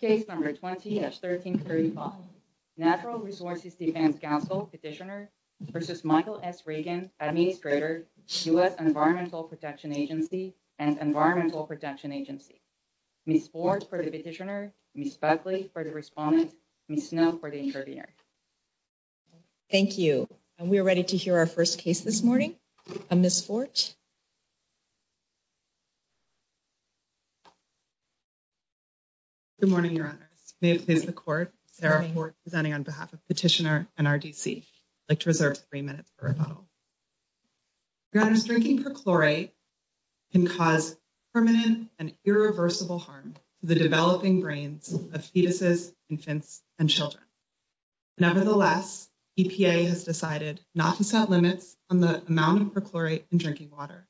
Case number 20-1335, Natural Resources Defense Council Petitioner v. Michael S. Regan, Administrator, U.S. Environmental Protection Agency and Environmental Protection Agency. Ms. Forge for the petitioner, Ms. Buckley for the respondent, Ms. Snow for the interviewer. Thank you. We're ready to hear our first case this morning. Ms. Forge. Good morning, Your Honors. May it please the Court, Sarah Forge presenting on behalf of Petitioner and RDC. I'd like to reserve three minutes for rebuttal. Your Honors, drinking perchlorate can cause permanent and irreversible harm to the developing brains of fetuses, infants, and children. Nevertheless, EPA has decided not to set limits on the amount of perchlorate in drinking water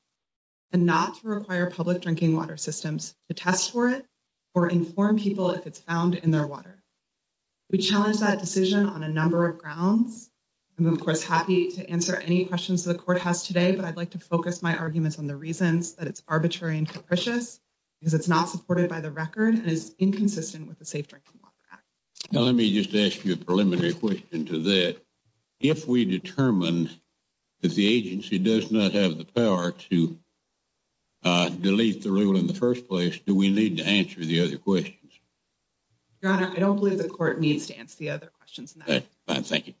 and not to require public drinking water systems to test for it or inform people if it's found in their water. We challenge that decision on a number of grounds. I'm, of course, happy to answer any questions the Court has today, but I'd like to focus my arguments on the reasons that it's arbitrary and capricious because it's not supported by the record and is inconsistent with the Safe Drinking Water Act. Now, let me just ask you a preliminary question to that. If we determine that the agency does not have the power to delete the rule in the first place, do we need to answer the other questions? Your Honor, I don't believe the Court needs to answer the other questions in that. Fine, thank you.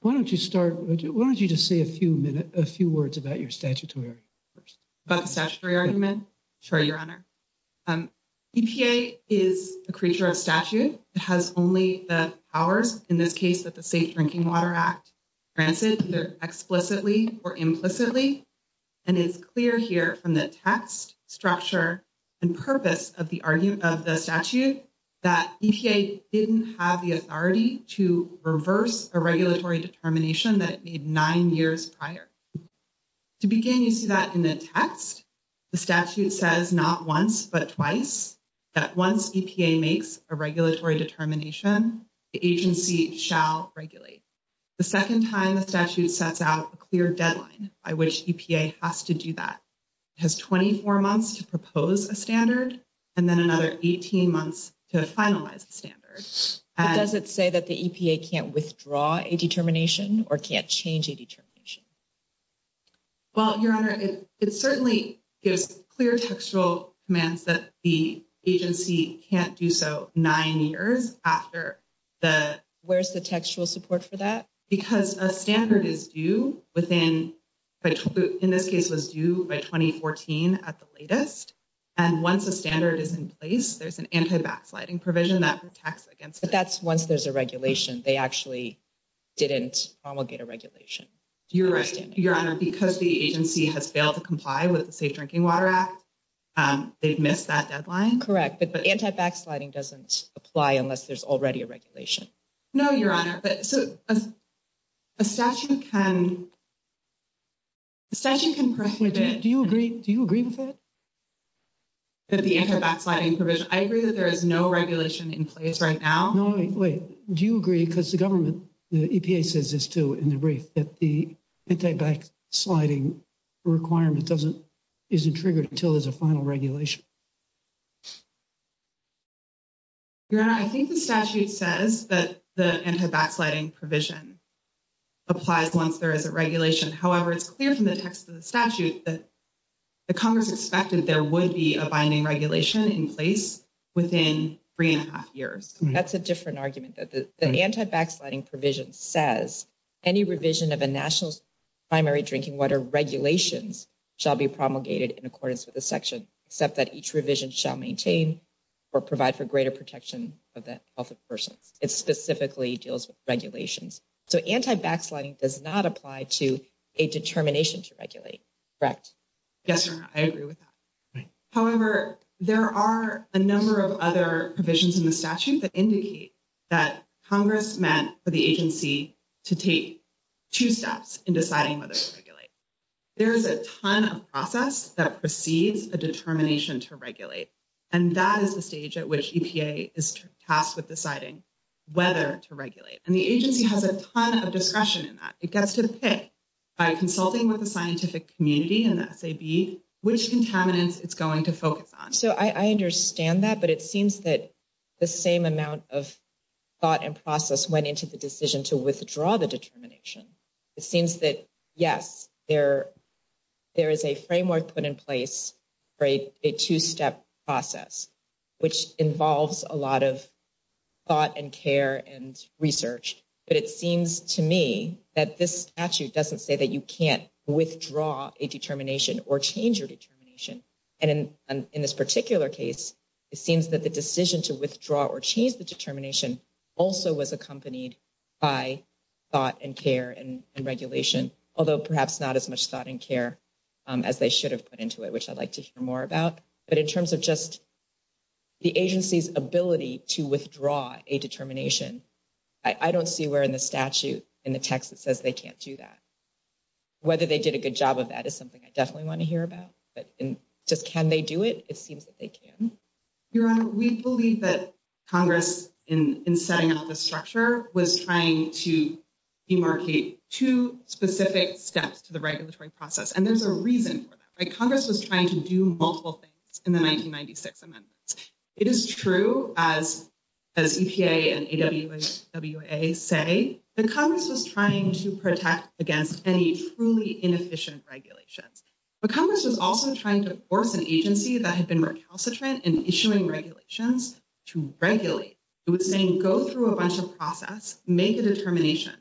Why don't you start, why don't you just say a few words about your statutory argument first? About the statutory argument? Sure, Your Honor. EPA is a creature of statute. It has only the powers, in this case, that the Safe Drinking Water Act grants it, either explicitly or implicitly. And it's clear here from the text, structure, and purpose of the statute that EPA didn't have the authority to reverse a regulatory determination that it made 9 years prior. To begin, you see that in the text. The statute says not once, but twice, that once EPA makes a regulatory determination, the agency shall regulate. The second time, the statute sets out a clear deadline by which EPA has to do that. It has 24 months to propose a standard and then another 18 months to finalize the standard. But does it say that the EPA can't withdraw a determination or can't change a determination? Well, Your Honor, it certainly gives clear textual commands that the agency can't do so 9 years after the… Where's the textual support for that? Because a standard is due within, in this case, was due by 2014 at the latest. And once a standard is in place, there's an anti-backsliding provision that protects against it. But that's once there's a regulation. They actually didn't promulgate a regulation. You're right, Your Honor. Because the agency has failed to comply with the Safe Drinking Water Act, they've missed that deadline. Correct. But anti-backsliding doesn't apply unless there's already a regulation. No, Your Honor. But so a statute can… A statute can prohibit… Do you agree? Do you agree with that? That the anti-backsliding provision… I agree that there is no regulation in place right now. No, wait. Do you agree? Because the government, the EPA says this too in the brief that the anti-backsliding requirement doesn't… isn't triggered until there's a final regulation. Your Honor, I think the statute says that the anti-backsliding provision applies once there is a regulation. However, it's clear from the text of the statute that the Congress expected there would be a binding regulation in place within three and a half years. That's a different argument. The anti-backsliding provision says any revision of a national primary drinking water regulations shall be promulgated in accordance with the section, except that each revision shall maintain or provide for greater protection of the health of persons. It specifically deals with regulations. So anti-backsliding does not apply to a determination to regulate. Correct? Yes, Your Honor. I agree with that. However, there are a number of other provisions in the statute that indicate that Congress meant for the agency to take two steps in deciding whether to regulate. There is a ton of process that precedes a determination to regulate. And that is the stage at which EPA is tasked with deciding whether to regulate. And the agency has a ton of discretion in that. It gets to the pick by consulting with the scientific community and the SAB, which contaminants it's going to focus on. So I understand that, but it seems that the same amount of thought and process went into the decision to withdraw the determination. It seems that, yes, there is a framework put in place for a two-step process, which involves a lot of thought and care and research. But it seems to me that this statute doesn't say that you can't withdraw a determination or change your determination. And in this particular case, it seems that the decision to withdraw or change the determination also was accompanied by thought and care and regulation, although perhaps not as much thought and care as they should have put into it, which I'd like to hear more about. But in terms of just the agency's ability to withdraw a determination, I don't see where in the statute, in the text, it says they can't do that. Whether they did a good job of that is something I definitely want to hear about. But just can they do it? It seems that they can. Your Honor, we believe that Congress, in setting up this structure, was trying to demarcate two specific steps to the regulatory process. And there's a reason for that, right? Congress was trying to do multiple things in the 1996 amendments. It is true, as EPA and AWWA say, that Congress was trying to protect against any truly inefficient regulations. But Congress was also trying to force an agency that had been recalcitrant in issuing regulations to regulate. It was saying, go through a bunch of process, make a determination.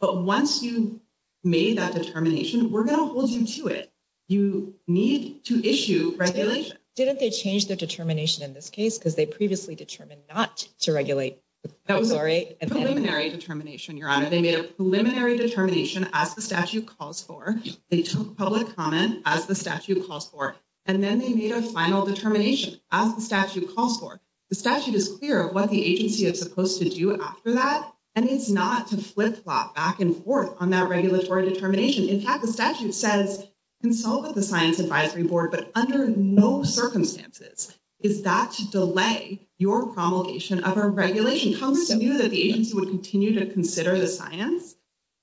But once you've made that determination, we're going to hold you to it. You need to issue regulation. Didn't they change the determination in this case because they previously determined not to regulate? That was a preliminary determination, Your Honor. They made a preliminary determination, as the statute calls for. They took public comment, as the statute calls for. And then they made a final determination, as the statute calls for. The statute is clear of what the agency is supposed to do after that, and it's not to flip-flop back and forth on that regulatory determination. In fact, the statute says, consult with the Science Advisory Board, but under no circumstances is that to delay your promulgation of a regulation. Congress knew that the agency would continue to consider the science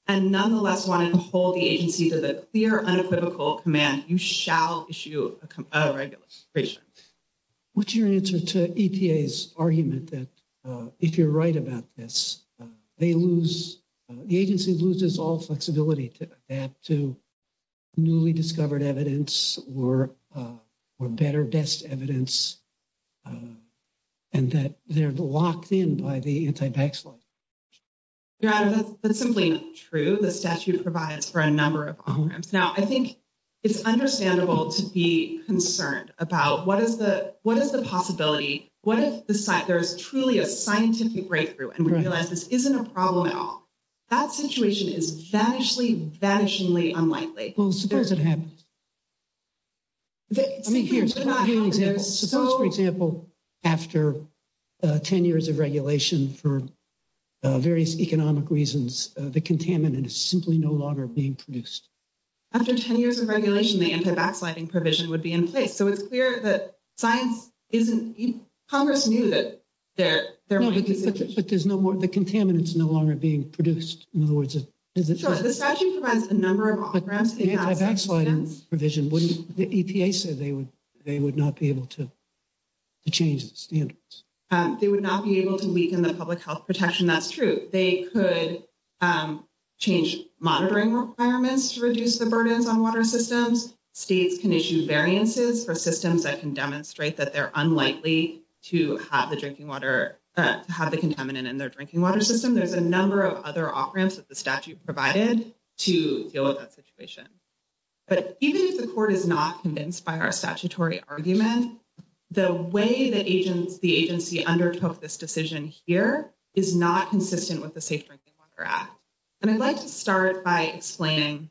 and nonetheless wanted to hold the agency to the clear, unequivocal command, you shall issue a regulation. What's your answer to EPA's argument that if you're right about this, they lose, the agency loses all flexibility to adapt to newly discovered evidence or better best evidence and that they're locked in by the anti-tax law? Your Honor, that's simply not true. The statute provides for a number of offerings. Now, I think it's understandable to be concerned about what is the possibility? What if there is truly a scientific breakthrough and we realize this isn't a problem at all? That situation is vanishingly, vanishingly unlikely. Well, suppose it happens. I mean, here's an example. Suppose, for example, after 10 years of regulation for various economic reasons, the contaminant is simply no longer being produced. After 10 years of regulation, the anti-backsliding provision would be in place. So it's clear that science isn't, Congress knew that there might be a situation. But there's no more, the contaminants no longer being produced. In other words, the statute provides a number of programs. The anti-backsliding provision wouldn't, the EPA said they would, they would not be able to change the standards. They would not be able to weaken the public health protection. That's true. They could change monitoring requirements to reduce the burdens on water systems. States can issue variances for systems that can demonstrate that they're unlikely to have the drinking water, to have the contaminant in their drinking water system. There's a number of other offerings that the statute provided to deal with that situation. But even if the court is not convinced by our statutory argument, the way that agents, the agency undertook this decision here is not consistent with the Safe Drinking Water Act. And I'd like to start by explaining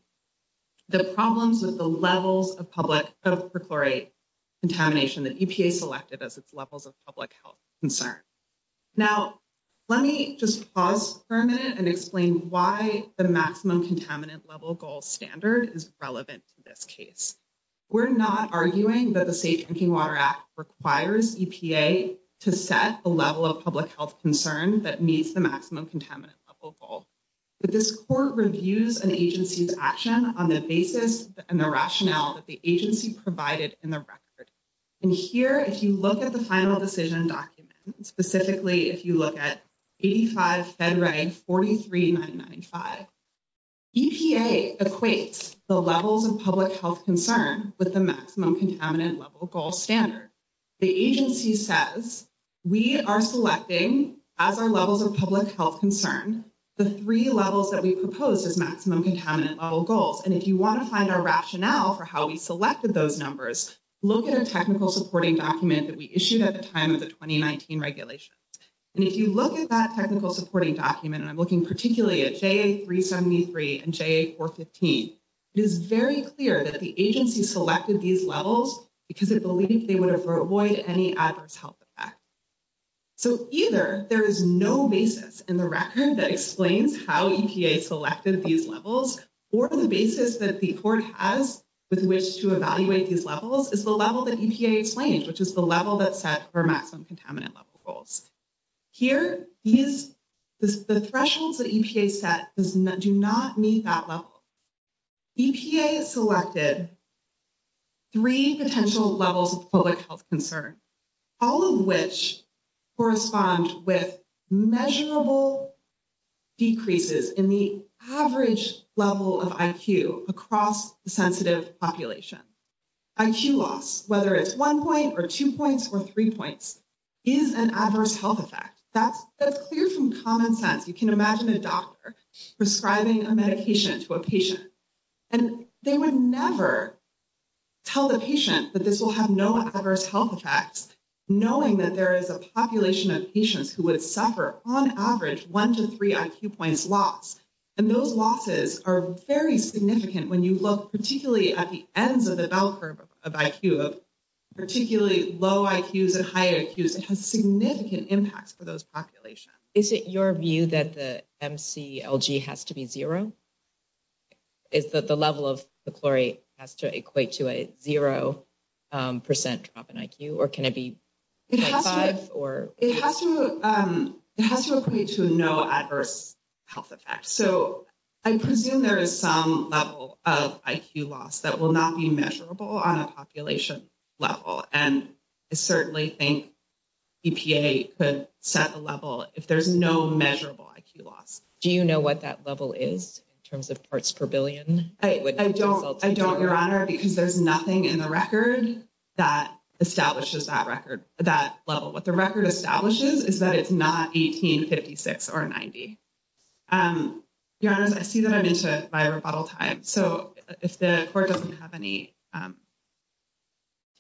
the problems with the levels of public health per chlorate contamination that EPA selected as its levels of public health concern. Now, let me just pause for a minute and explain why the maximum contaminant level goal standard is relevant to this case. We're not arguing that the Safe Drinking Water Act requires EPA to set a level of public health concern that meets the maximum contaminant level goal. But this court reviews an agency's action on the basis and the rationale that the agency provided in the record. And here, if you look at the final decision document, specifically, if you look at 85 FEDRAG 43995, EPA equates the levels of public health concern with the maximum contaminant level goal standard. The agency says we are selecting, as our levels of public health concern, the three levels that we propose as maximum contaminant level goals. And if you want to find our rationale for how we selected those numbers, look at a technical supporting document that we issued at the time of the 2019 regulations. And if you look at that technical supporting document, and I'm looking particularly at JA 373 and JA 415, it is very clear that the agency selected these levels because it believed they would avoid any adverse health effect. So either there is no basis in the record that explains how EPA selected these levels, or the basis that the court has with which to evaluate these levels is the level that EPA explained, which is the level that's set for maximum contaminant level goals. Here, the thresholds that EPA set do not meet that level. EPA selected three potential levels of public health concern, all of which correspond with measurable decreases in the average level of IQ across the sensitive population. IQ loss, whether it's one point or two points or three points, is an adverse health effect. That's clear from common sense. You can imagine a doctor prescribing a medication to a patient, and they would never tell the patient that this will have no adverse health effects, knowing that there is a population of patients who would suffer, on average, one to three IQ points loss. And those losses are very significant when you look particularly at the ends of the bell curve of IQ, particularly low IQs and high IQs. It has significant impacts for those populations. Is it your view that the MCLG has to be zero? Is that the level of the chlorate has to equate to a zero percent drop in IQ, or can it be five? It has to equate to no adverse health effects. So I presume there is some level of IQ loss that will not be measurable on a population level. And I certainly think EPA could set the level if there's no measurable IQ loss. Do you know what that level is in terms of parts per billion? I don't, Your Honor, because there's nothing in the record that establishes that record, that level. What the record establishes is that it's not 1856 or 90. Your Honor, I see that I'm into my rebuttal time. So if the court doesn't have any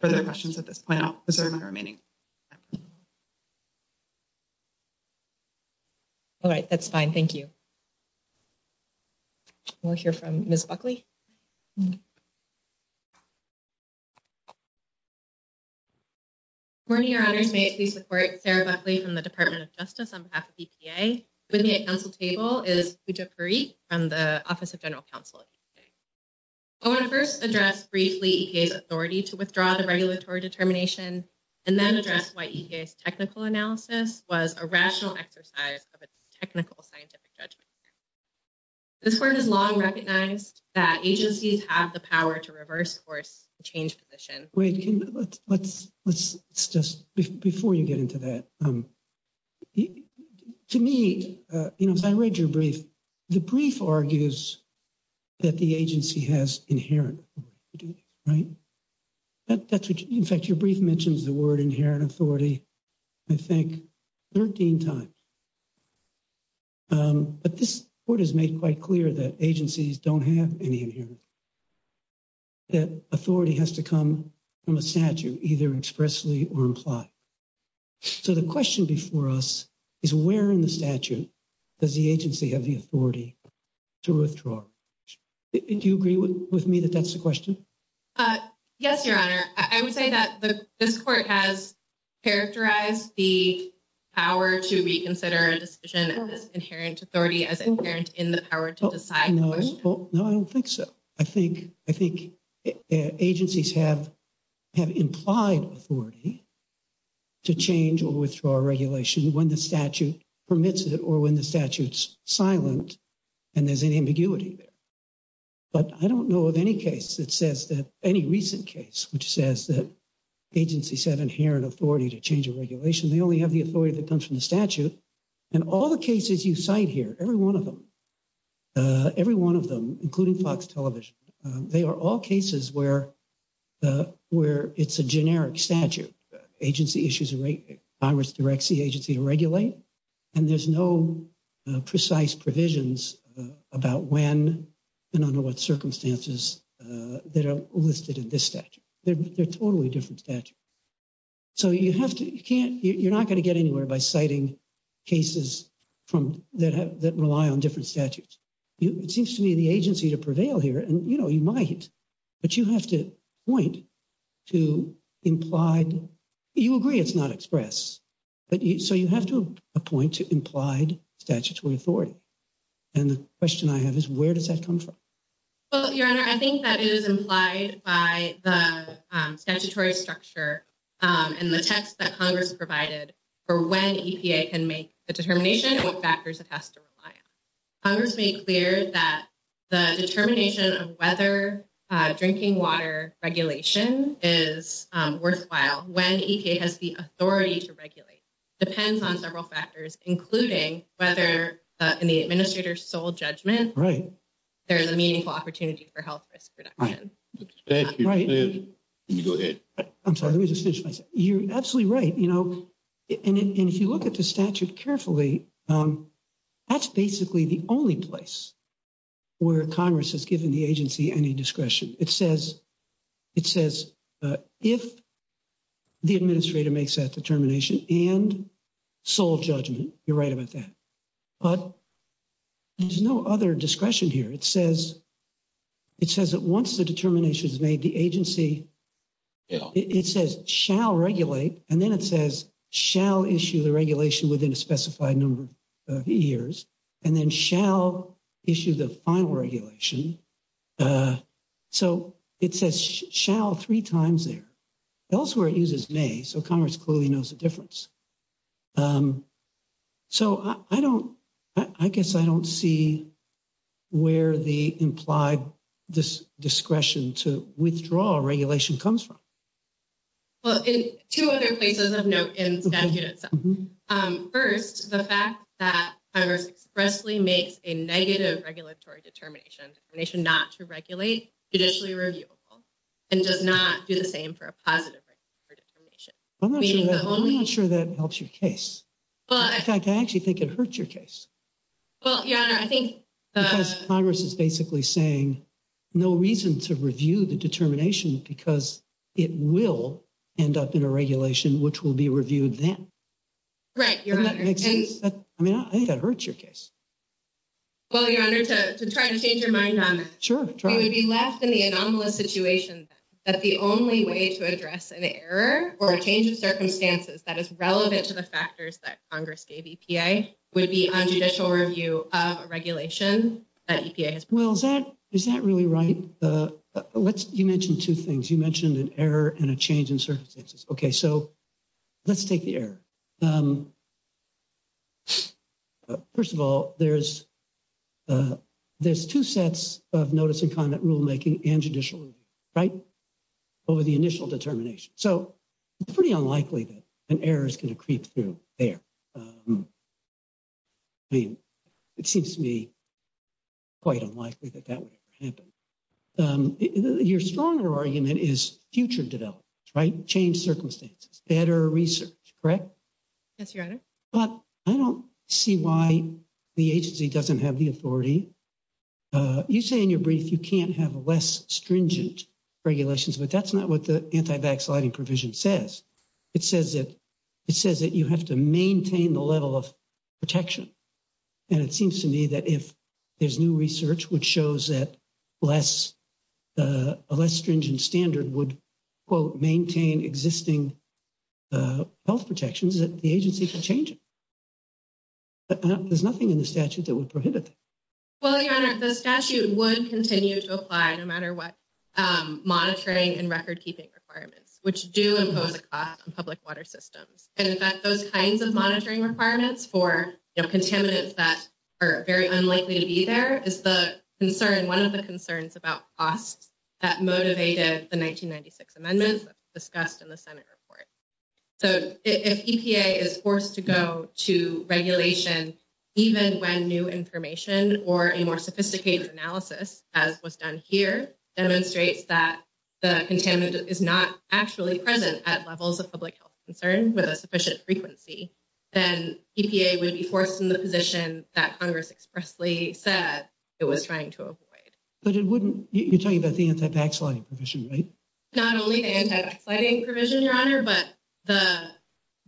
further questions at this point, I'll reserve my remaining time. All right, that's fine. Thank you. We'll hear from Ms. Buckley. Good morning, Your Honors. May I please report, Sarah Buckley from the Department of Justice on behalf of EPA. With me at council table is Pooja Parikh from the Office of General Counsel. I want to first address briefly EPA's authority to withdraw the regulatory determination and then address why EPA's technical analysis was a rational exercise of a technical scientific judgment. This court has long recognized that agencies have the power to reverse course change position. Wait, let's just, before you get into that, to me, you know, as I read your brief, the brief argues that the agency has inherent authority, right? That's what, in fact, your brief mentions the word inherent authority, I think, 13 times. But this court has made quite clear that agencies don't have any inherent authority. That authority has to come from a statute, either expressly or implied. So the question before us is where in the statute does the agency have the authority to withdraw? Do you agree with me that that's the question? Yes, Your Honor. I would say that this court has characterized the power to reconsider a decision as inherent authority, as inherent in the power to decide. No, I don't think so. I think agencies have implied authority to change or withdraw a regulation when the statute permits it or when the statute's silent and there's an ambiguity there. But I don't know of any case that says that, any recent case, which says that agencies have inherent authority to change a regulation. They only have the authority that comes from the statute. And all the cases you cite here, every one of them, every one of them, including Fox Television, they are all cases where it's a generic statute. Agency issues a right, Congress directs the agency to regulate, and there's no precise provisions about when and under what circumstances that are listed in this statute. They're totally different statutes. So you have to, you can't, you're not going to get anywhere by citing cases from, that rely on different statutes. It seems to me the agency to prevail here, and, you know, you might, but you have to point to implied, you agree it's not express, but you, so you have to appoint to implied statutory authority. And the question I have is, where does that come from? Well, Your Honor, I think that it is implied by the statutory structure and the text that Congress provided for when EPA can make the determination and what factors it has to rely on. Congress made clear that the determination of whether drinking water regulation is worthwhile when EPA has the authority to regulate. Depends on several factors, including whether in the administrator's sole judgment, there's a meaningful opportunity for health risk reduction. Thank you. I'm sorry, let me just finish. You're absolutely right. You know, and if you look at the statute carefully, that's basically the only place where Congress has given the agency any discretion. It says, it says, if the administrator makes that determination and sole judgment, you're right about that. But there's no other discretion here. It says, it says that once the determination is made, the agency, it says shall regulate, and then it says shall issue the regulation within a specified number of years, and then shall issue the final regulation. So it says shall three times there. Elsewhere, it uses may, so Congress clearly knows the difference. So I don't, I guess I don't see where the implied discretion to withdraw regulation comes from. Well, in two other places of note in the statute itself. First, the fact that Congress expressly makes a negative regulatory determination, not to regulate, judicially reviewable, and does not do the same for a positive regulation. I'm not sure that I'm not sure that helps your case. But I actually think it hurts your case. Well, yeah, I think Congress is basically saying no reason to review the determination because it will end up in a regulation, which will be reviewed then. Right. I mean, I think that hurts your case. Well, your honor to try to change your mind on it. We would be left in the anomalous situation that the only way to address an error or a change in circumstances that is relevant to the factors that Congress gave EPA would be on judicial review of a regulation that EPA has. Well, is that is that really right? Let's you mentioned two things. You mentioned an error and a change in circumstances. Okay, so let's take the air. First of all, there's there's two sets of notice and comment rulemaking and judicial right over the initial determination. So it's pretty unlikely that an error is going to creep through there. I mean, it seems to me quite unlikely that that would ever happen. Your stronger argument is future development, right? Change circumstances, better research, correct? Yes, your honor. But I don't see why the agency doesn't have the authority. You say in your brief, you can't have less stringent regulations, but that's not what the anti-vaccinating provision says. It says that it says that you have to maintain the level of protection. And it seems to me that if there's new research, which shows that less a less stringent standard would maintain existing health protections, that the agency can change it. There's nothing in the statute that would prohibit. Well, your honor, the statute would continue to apply no matter what monitoring and record keeping requirements, which do impose a cost on public water systems. And in fact, those kinds of monitoring requirements for contaminants that are very unlikely to be there is the concern. One of the concerns about costs that motivated the 1996 amendments discussed in the Senate report. So if EPA is forced to go to regulation, even when new information or a more sophisticated analysis, as was done here, demonstrates that the contaminant is not actually present at levels of public health concern with a sufficient frequency, then EPA would be forced in the position that Congress expressly said it was trying to avoid. But it wouldn't. You're talking about the anti-vaccinating provision, right? Not only the anti-vaccinating provision, your honor, but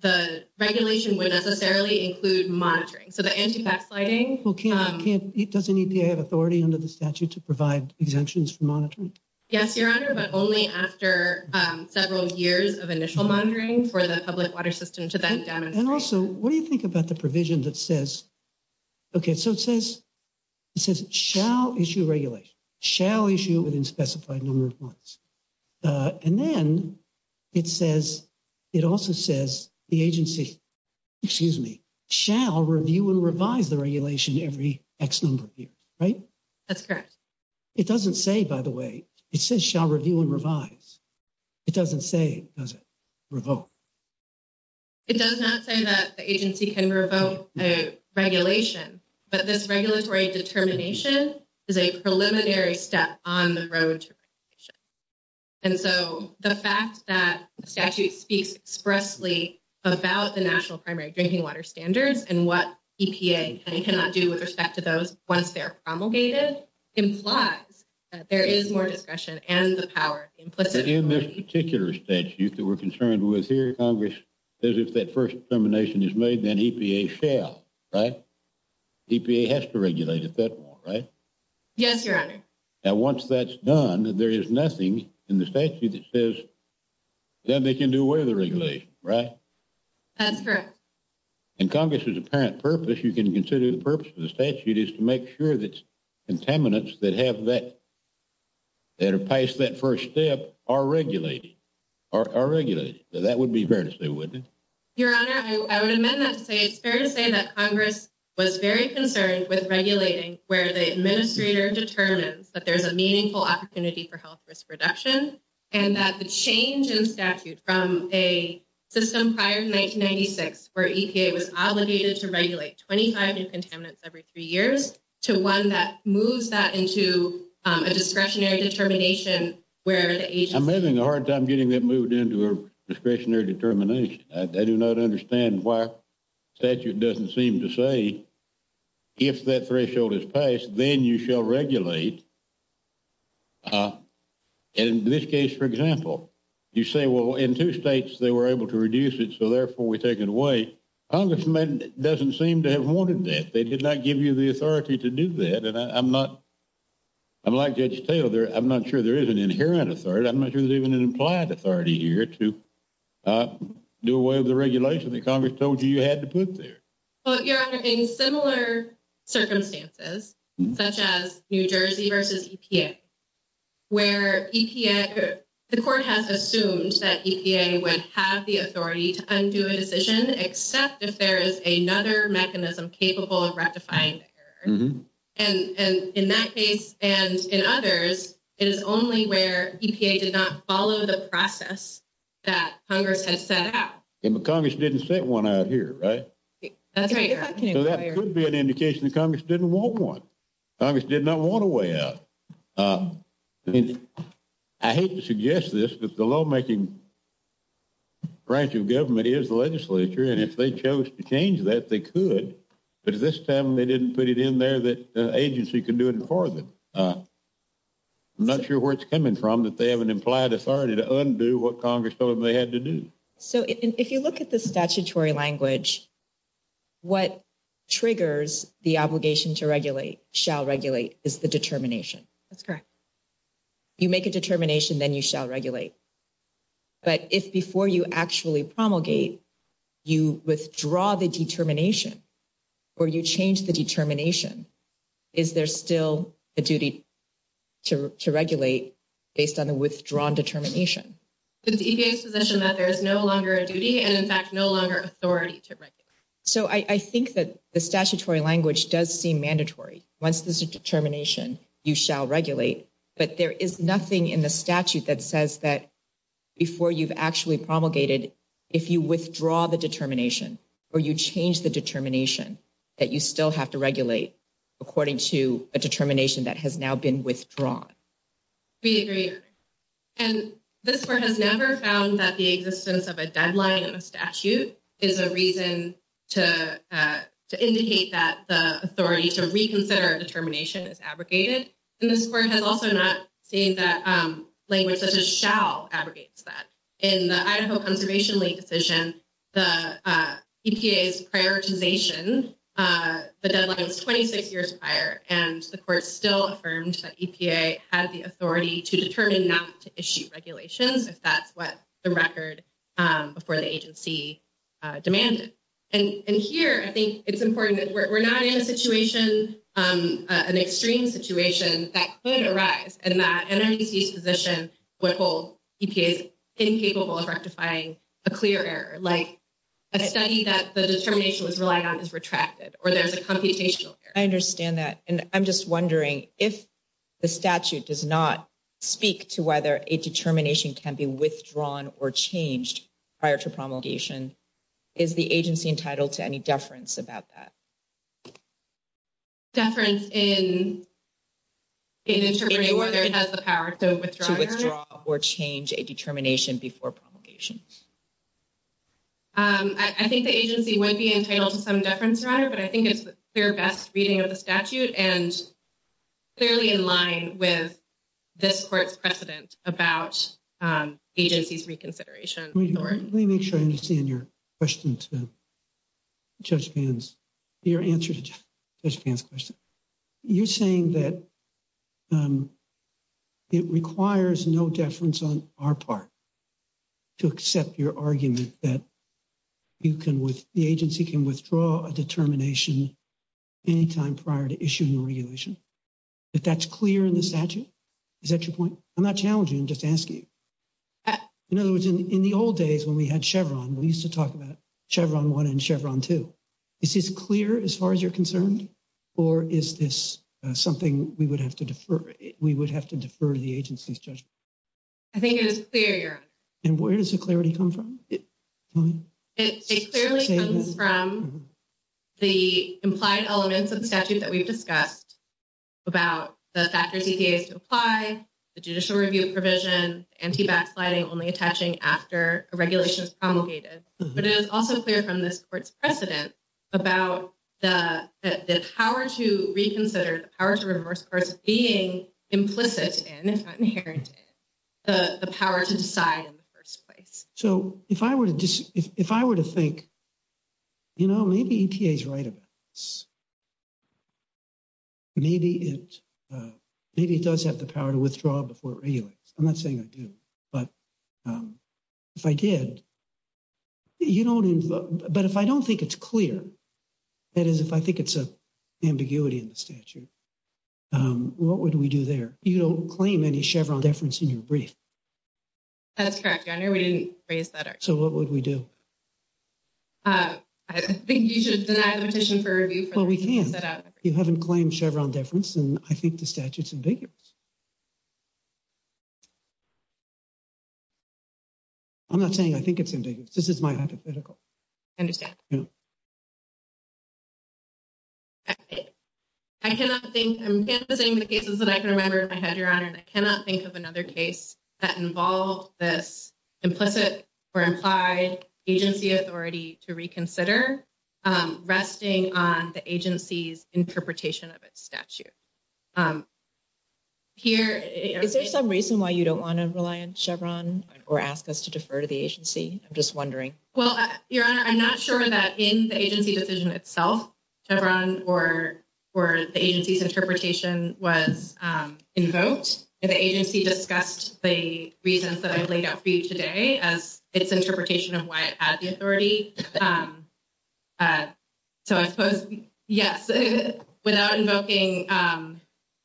the regulation would necessarily include monitoring. So the anti-vaccinating. Well, does EPA have authority under the statute to provide exemptions for monitoring? Yes, your honor, but only after several years of initial monitoring for the public water system to then demonstrate. And also, what do you think about the provision that says, okay, so it says, it says shall issue regulation, shall issue within specified number of months. And then it says, it also says the agency, excuse me, shall review and revise the regulation every X number of years, right? That's correct. It doesn't say, by the way, it says shall review and revise. It doesn't say, does it, revoke? It does not say that the agency can revoke a regulation, but this regulatory determination is a preliminary step on the road to regulation. And so the fact that the statute speaks expressly about the national primary drinking water standards and what EPA cannot do with respect to those once they're promulgated implies that there is more discretion and the power implicit in this particular statute that we're concerned with here. Congress says if that first determination is made, then EPA shall, right? EPA has to regulate it that way, right? Yes, your honor. Now, once that's done, there is nothing in the statute that says, then they can do away with the regulation, right? That's correct. And Congress's apparent purpose, you can consider the purpose of the statute is to make sure that contaminants that have that, that are past that first step are regulated, are regulated. That would be fair to say, wouldn't it? Your honor, I would amend that to say it's fair to say that Congress was very concerned with regulating where the administrator determines that there's a meaningful opportunity for health risk reduction and that the change in statute from a system prior to 1996, where EPA was obligated to regulate 25 new contaminants every three years, to one that moves that into a discretionary determination, where the agency... I'm having a hard time getting that moved into a discretionary determination. I do not understand why statute doesn't seem to say, if that threshold is passed, then you shall regulate. In this case, for example, you say, well, in two states, they were able to reduce it. Therefore, we take it away. Congressman doesn't seem to have wanted that. They did not give you the authority to do that. I'm like Judge Taylor. I'm not sure there is an inherent authority. I'm not sure there's even an implied authority here to do away with the regulation that Congress told you you had to put there. Well, your honor, in similar circumstances, such as New Jersey versus EPA, where the court has assumed that EPA would have the authority to undo a decision, except if there is another mechanism capable of rectifying the error, and in that case and in others, it is only where EPA did not follow the process that Congress has set out. But Congress didn't set one out here, right? That's right, your honor. So that could be an indication that Congress didn't want one. Congress did not want a way out. Uh, I hate to suggest this, but the lawmaking branch of government is the legislature, and if they chose to change that, they could, but at this time, they didn't put it in there that the agency could do it for them. I'm not sure where it's coming from that they have an implied authority to undo what Congress told them they had to do. So if you look at the statutory language, what triggers the obligation to regulate, shall regulate, is the determination. That's correct. You make a determination, then you shall regulate. But if before you actually promulgate, you withdraw the determination, or you change the determination, is there still a duty to regulate based on the withdrawn determination? It's EPA's position that there is no longer a duty, and in fact, no longer authority to regulate. So I think that the statutory language does seem mandatory. Once there's a determination, you shall regulate. But there is nothing in the statute that says that before you've actually promulgated, if you withdraw the determination, or you change the determination, that you still have to regulate according to a determination that has now been withdrawn. We agree. And this court has never found that the existence of a deadline in a statute is a reason to indicate that the authority to reconsider a determination is abrogated. And this court has also not seen that language such as shall abrogates that. In the Idaho Conservation League decision, the EPA's prioritization, the deadline was 26 years prior, and the court still affirmed that EPA had the authority to determine not to issue regulations if that's what the record before the agency demanded. And here, I think it's important that we're not in a situation, an extreme situation that could arise, and that NMDC's position would hold EPA's incapable of rectifying a clear error, like a study that the determination was relying on is retracted, or there's a computational error. I understand that. And I'm just wondering, if the statute does not speak to whether a determination can be withdrawn or changed prior to promulgation, is the agency entitled to any deference about that? Deference in determining whether it has the power to withdraw or change a determination before promulgation. I think the agency would be entitled to some deference rather, but I think it's the clear best reading of the statute and fairly in line with this court's precedent about agency's reconsideration. Let me make sure I understand your question to Judge Vance, your answer to Judge Vance's You're saying that it requires no deference on our part to accept your argument that the agency can withdraw a determination anytime prior to issuing a regulation, that that's clear in the statute? Is that your point? I'm not challenging, I'm just asking you. In other words, in the old days when we had Chevron, we used to talk about Chevron 1 and Chevron 2. Is this clear as far as you're concerned, or is this something we would have to defer? We would have to defer to the agency's judgment. I think it is clear, Your Honor. And where does the clarity come from? It clearly comes from the implied elements of the statute that we've discussed about the factors EPA has to apply, the judicial review provision, anti-backsliding only attaching after a regulation is promulgated. But it is also clear from this court's precedent about the power to reconsider, the power to reverse course of being implicit in, if not inherent in, the power to decide in the first place. So if I were to think, you know, maybe EPA's right about this. Maybe it does have the power to withdraw before it regulates. I'm not saying I do, but if I did, you know, but if I don't think it's clear, that is, if I think it's an ambiguity in the statute, what would we do there? You don't claim any Chevron deference in your brief. That's correct, Your Honor. We didn't raise that. So what would we do? I think you should deny the petition for review. Well, we can't. You haven't claimed Chevron deference, and I think the statute's ambiguous. I'm not saying I think it's ambiguous. This is my hypothetical. I cannot think, I'm canvassing the cases that I can remember in my head, Your Honor, and I cannot think of another case that involved this implicit or implied agency authority to reconsider, resting on the agency's interpretation of its statute. Is there some reason why you don't want to rely on Chevron or ask us to defer to the agency? I'm just wondering. Well, Your Honor, I'm not sure that in the agency decision itself, Chevron or the agency's interpretation was invoked. If the agency discussed the reasons that I laid out for you today as its interpretation of why it had the authority. So I suppose, yes, without invoking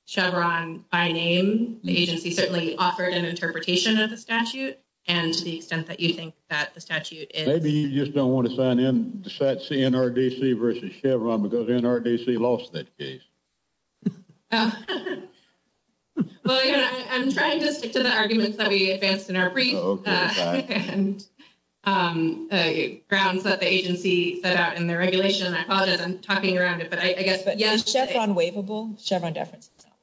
Chevron by name, the agency certainly offered an interpretation of the statute and to the extent that you think that the statute is. Maybe you just don't want to sign in, decide CNRDC versus Chevron because NRDC lost that case. Well, Your Honor, I'm trying to stick to the arguments that we advanced in our brief. And grounds that the agency set out in their regulation. I apologize, I'm talking around it, but I guess. But is Chevron waivable? Chevron deference is not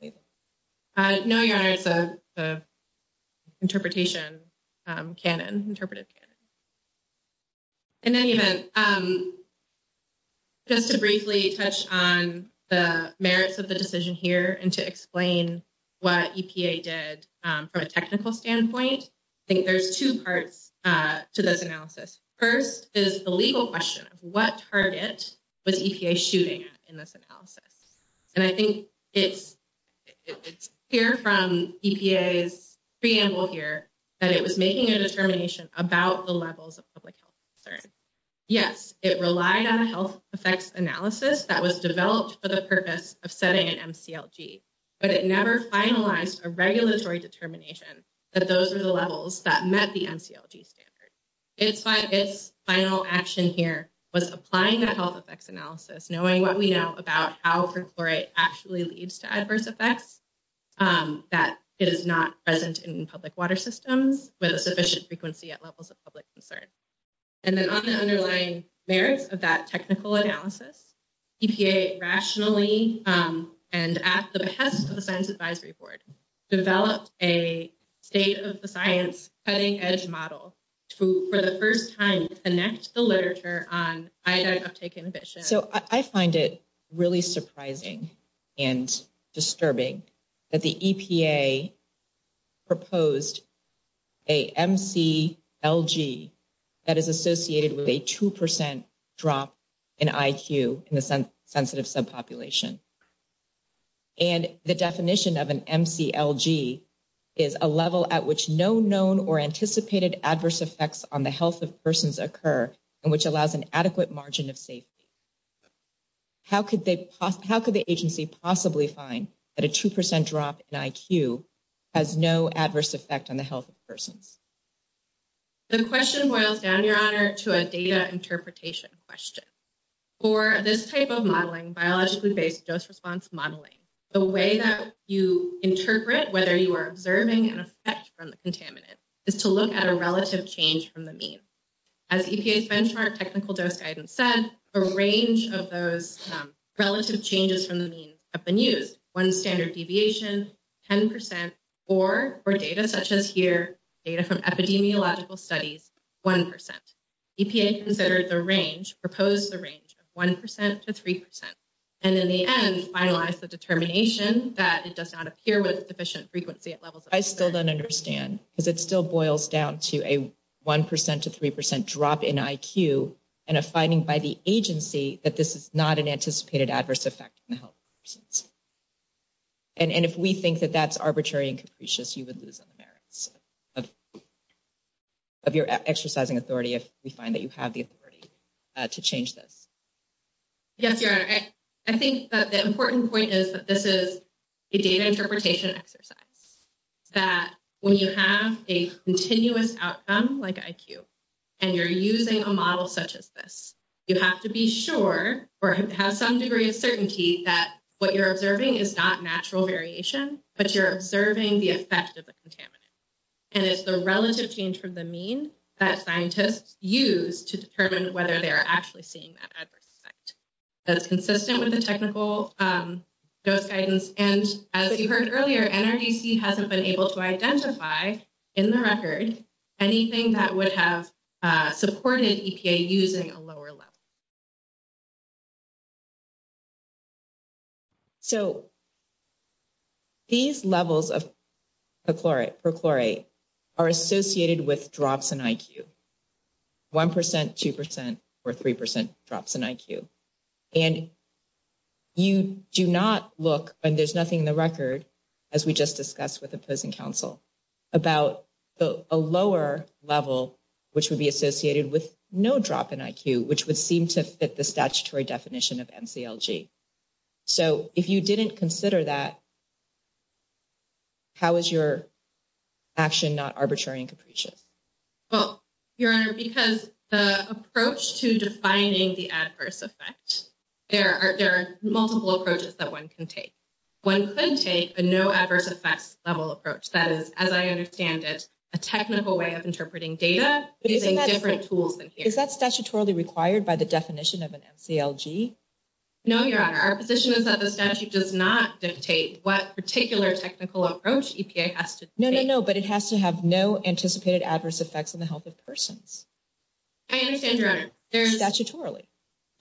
waivable? No, Your Honor, it's an interpretation canon, interpretive canon. In any event, just to briefly touch on the merits of the decision here and to explain what EPA did from a technical standpoint, I think there's two parts to this analysis. First is the legal question of what target was EPA shooting in this analysis? And I think it's clear from EPA's preamble here that it was making a determination about the levels of public health concern. Yes, it relied on a health effects analysis that was developed for the purpose of setting an MCLG, but it never finalized a regulatory determination that those are the levels that met the MCLG standard. It's final action here was applying the health effects analysis, knowing what we know about how perchlorate actually leads to adverse effects that is not present in public water systems with a sufficient frequency at levels of public concern. And then on the underlying merits of that technical analysis, EPA rationally and at the behest of the Science Advisory Board, developed a state of the science cutting edge model to, for the first time, connect the literature on iodide uptake inhibition. So I find it really surprising and disturbing that the EPA proposed a MCLG that is associated with a 2% drop in IQ in the sensitive subpopulation. And the definition of an MCLG is a level at which no known or anticipated adverse effects on the health of persons occur and which allows an adequate margin of safety. How could the agency possibly find that a 2% drop in IQ has no adverse effect on the health of persons? The question boils down, Your Honor, to a data interpretation question. For this type of modeling, biologically based dose response modeling, the way that you interpret whether you are observing an effect from the contaminant is to look at a relative change from the mean. As EPA's benchmark technical dose guidance said, a range of those relative changes from the mean have been used. One standard deviation, 10%, or for data such as here, data from epidemiological studies, 1%. EPA considered the range, proposed the range of 1% to 3%. And in the end, finalized the determination that it does not appear with sufficient frequency at levels of... I still don't understand because it still boils down to a 1% to 3% drop in IQ and a finding by the agency that this is not an anticipated adverse effect on the health of persons. And if we think that that's arbitrary and capricious, you would lose on the merits of your exercising authority if we find that you have the authority to change this. Yes, Your Honor, I think that the important point is that this is a data interpretation exercise. That when you have a continuous outcome like IQ and you're using a model such as this, you have to be sure or have some degree of certainty that what you're observing is not natural variation, but you're observing the effect of the contaminant. And it's the relative change from the mean that scientists use to determine whether they are actually seeing that adverse effect. That's consistent with the technical dose guidance. And as you heard earlier, NRDC hasn't been able to identify in the record anything that would have supported EPA using a lower level. So these levels of perchlorate are associated with drops in IQ. 1%, 2%, or 3% drops in IQ. And you do not look, and there's nothing in the record, as we just discussed with opposing counsel, about a lower level, which would be associated with no drop in IQ, which would seem to fit the statutory definition of MCLG. So if you didn't consider that, how is your action not arbitrary and capricious? Well, Your Honor, because the approach to defining the adverse effect, there are multiple approaches that one can take. One could take a no adverse effects level approach. That is, as I understand it, a technical way of interpreting data using different tools. Is that statutorily required by the definition of an MCLG? No, Your Honor. Our position is that the statute does not dictate what particular technical approach EPA has to take. No, no, no. But it has to have no anticipated adverse effects on the health of persons. I understand, Your Honor. Statutorily.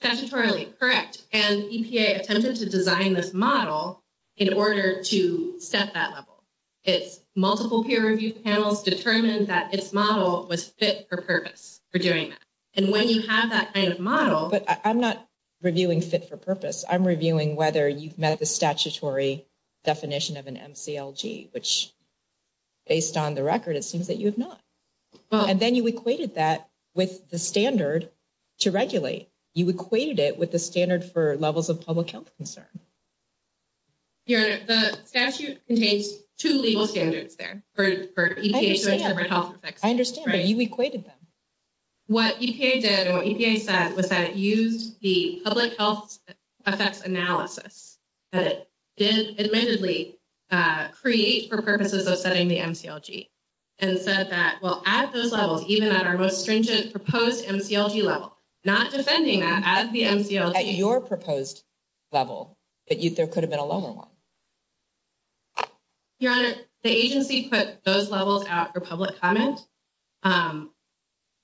Statutorily, correct. And EPA attempted to design this model in order to set that level. Its multiple peer review panels determined that its model was fit for purpose for doing that. And when you have that kind of model— I'm not reviewing fit for purpose. I'm reviewing whether you've met the statutory definition of an MCLG, which based on the record, it seems that you have not. And then you equated that with the standard to regulate. You equated it with the standard for levels of public health concern. Your Honor, the statute contains two legal standards there. I understand, but you equated them. What EPA did and what EPA said was that it used the public health effects analysis that it did admittedly create for purposes of setting the MCLG and said that, well, at those levels, even at our most stringent proposed MCLG level, not defending that as the MCLG— At your proposed level, there could have been a lower one. Your Honor, the agency put those levels out for public comment.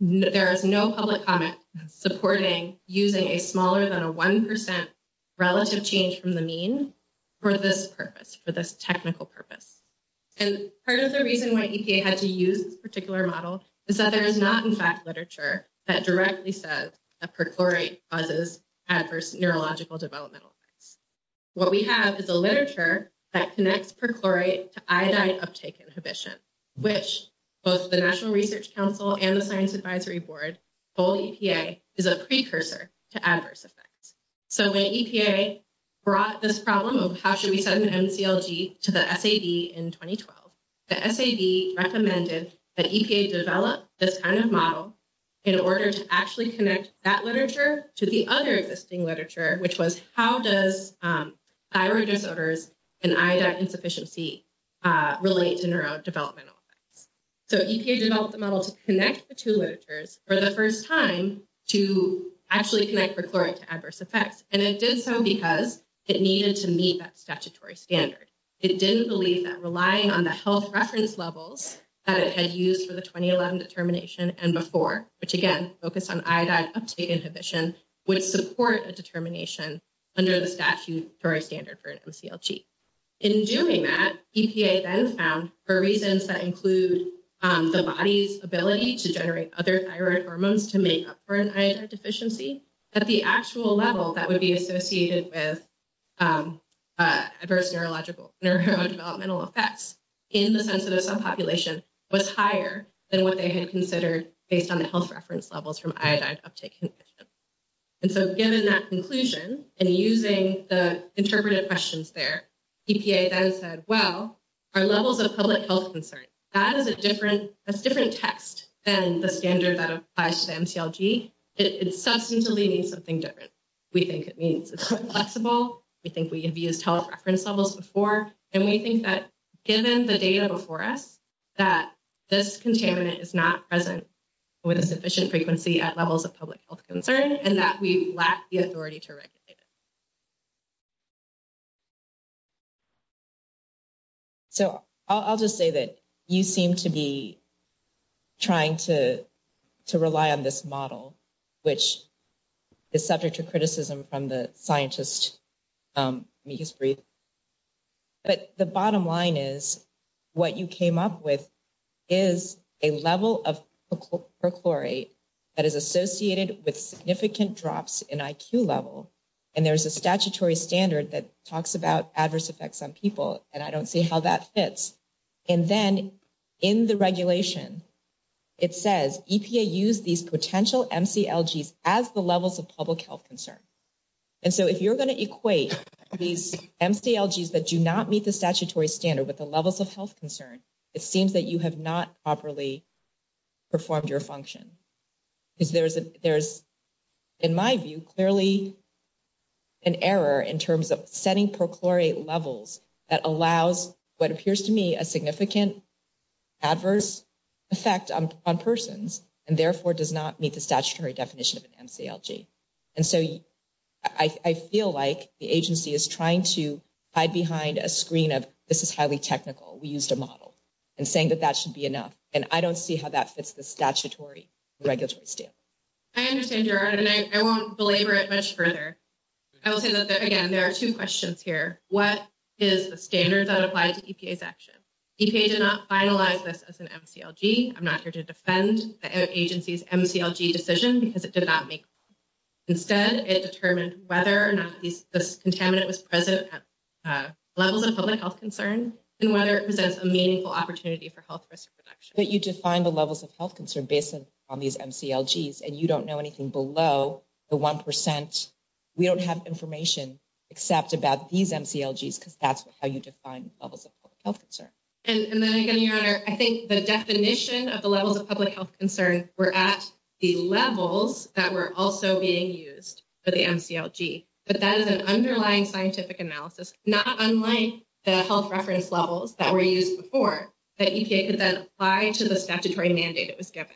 There is no public comment supporting using a smaller than a 1% relative change from the mean for this purpose, for this technical purpose. And part of the reason why EPA had to use this particular model is that there is not, in fact, literature that directly says that perchlorate causes adverse neurological developmental effects. What we have is a literature that connects perchlorate to iodine uptake inhibition, which both the National Research Council and the Science Advisory Board told EPA is a precursor to adverse effects. So when EPA brought this problem of how should we set an MCLG to the SAD in 2012, the SAD recommended that EPA develop this kind of model in order to actually connect that literature to the other existing literature, which was how does thyroid disorders and iodine insufficiency relate to neurodevelopmental effects. So EPA developed the model to connect the two literatures for the first time to actually connect perchlorate to adverse effects. And it did so because it needed to meet that statutory standard. It didn't believe that relying on the health reference levels that it had used for the 2011 determination and before, which, again, focused on iodine uptake inhibition, would support a determination under the statutory standard for an MCLG. In doing that, EPA then found for reasons that include the body's ability to generate other thyroid hormones to make up for an iodine deficiency, that the actual level that would be associated with adverse neurodevelopmental effects in the sensitive subpopulation was higher than what they had considered based on the health reference levels from iodine uptake inhibition. And so given that conclusion and using the interpreted questions there, EPA then said, well, our levels of public health concern, that is a different, that's a different text than the standard that applies to the MCLG. It substantially means something different. We think it means it's more flexible. We think we have used health reference levels before. And we think that given the data before us, that this contaminant is not present with a sufficient frequency at levels of public health concern, and that we lack the authority to regulate it. So I'll just say that you seem to be trying to rely on this model, which is subject to criticism from the scientists. Let me just breathe. But the bottom line is what you came up with is a level of perchlorate that is associated with significant drops in IQ level. And there's a statutory standard that talks about adverse effects on people. And I don't see how that fits. And then in the regulation, it says EPA use these potential MCLGs as the levels of public health concern. And so if you're going to equate these MCLGs that do not meet the statutory standard with the levels of health concern, it seems that you have not properly performed your function. Because there's, in my view, clearly an error in terms of setting perchlorate levels that allows what appears to me a significant adverse effect on persons, and therefore does not meet the statutory definition of an MCLG. And so I feel like the agency is trying to hide behind a screen of, this is highly technical, we used a model, and saying that that should be enough. And I don't see how that fits the statutory regulatory standard. I understand your argument. I won't belabor it much further. I will say that, again, there are two questions here. What is the standard that applies to EPA's action? EPA did not finalize this as an MCLG. I'm not here to defend the agency's MCLG decision because it did not make it. Instead, it determined whether or not this contaminant was present at levels of public health concern, and whether it presents a meaningful opportunity for health risk reduction. But you define the levels of health concern based on these MCLGs, and you don't know anything below the 1%. We don't have information except about these MCLGs because that's how you define levels of public health concern. And then again, Your Honor, I think the definition of the levels of public health concern were at the levels that were also being used for the MCLG. But that is an underlying scientific analysis, not unlike the health reference levels that were used before that EPA could then apply to the statutory mandate it was given.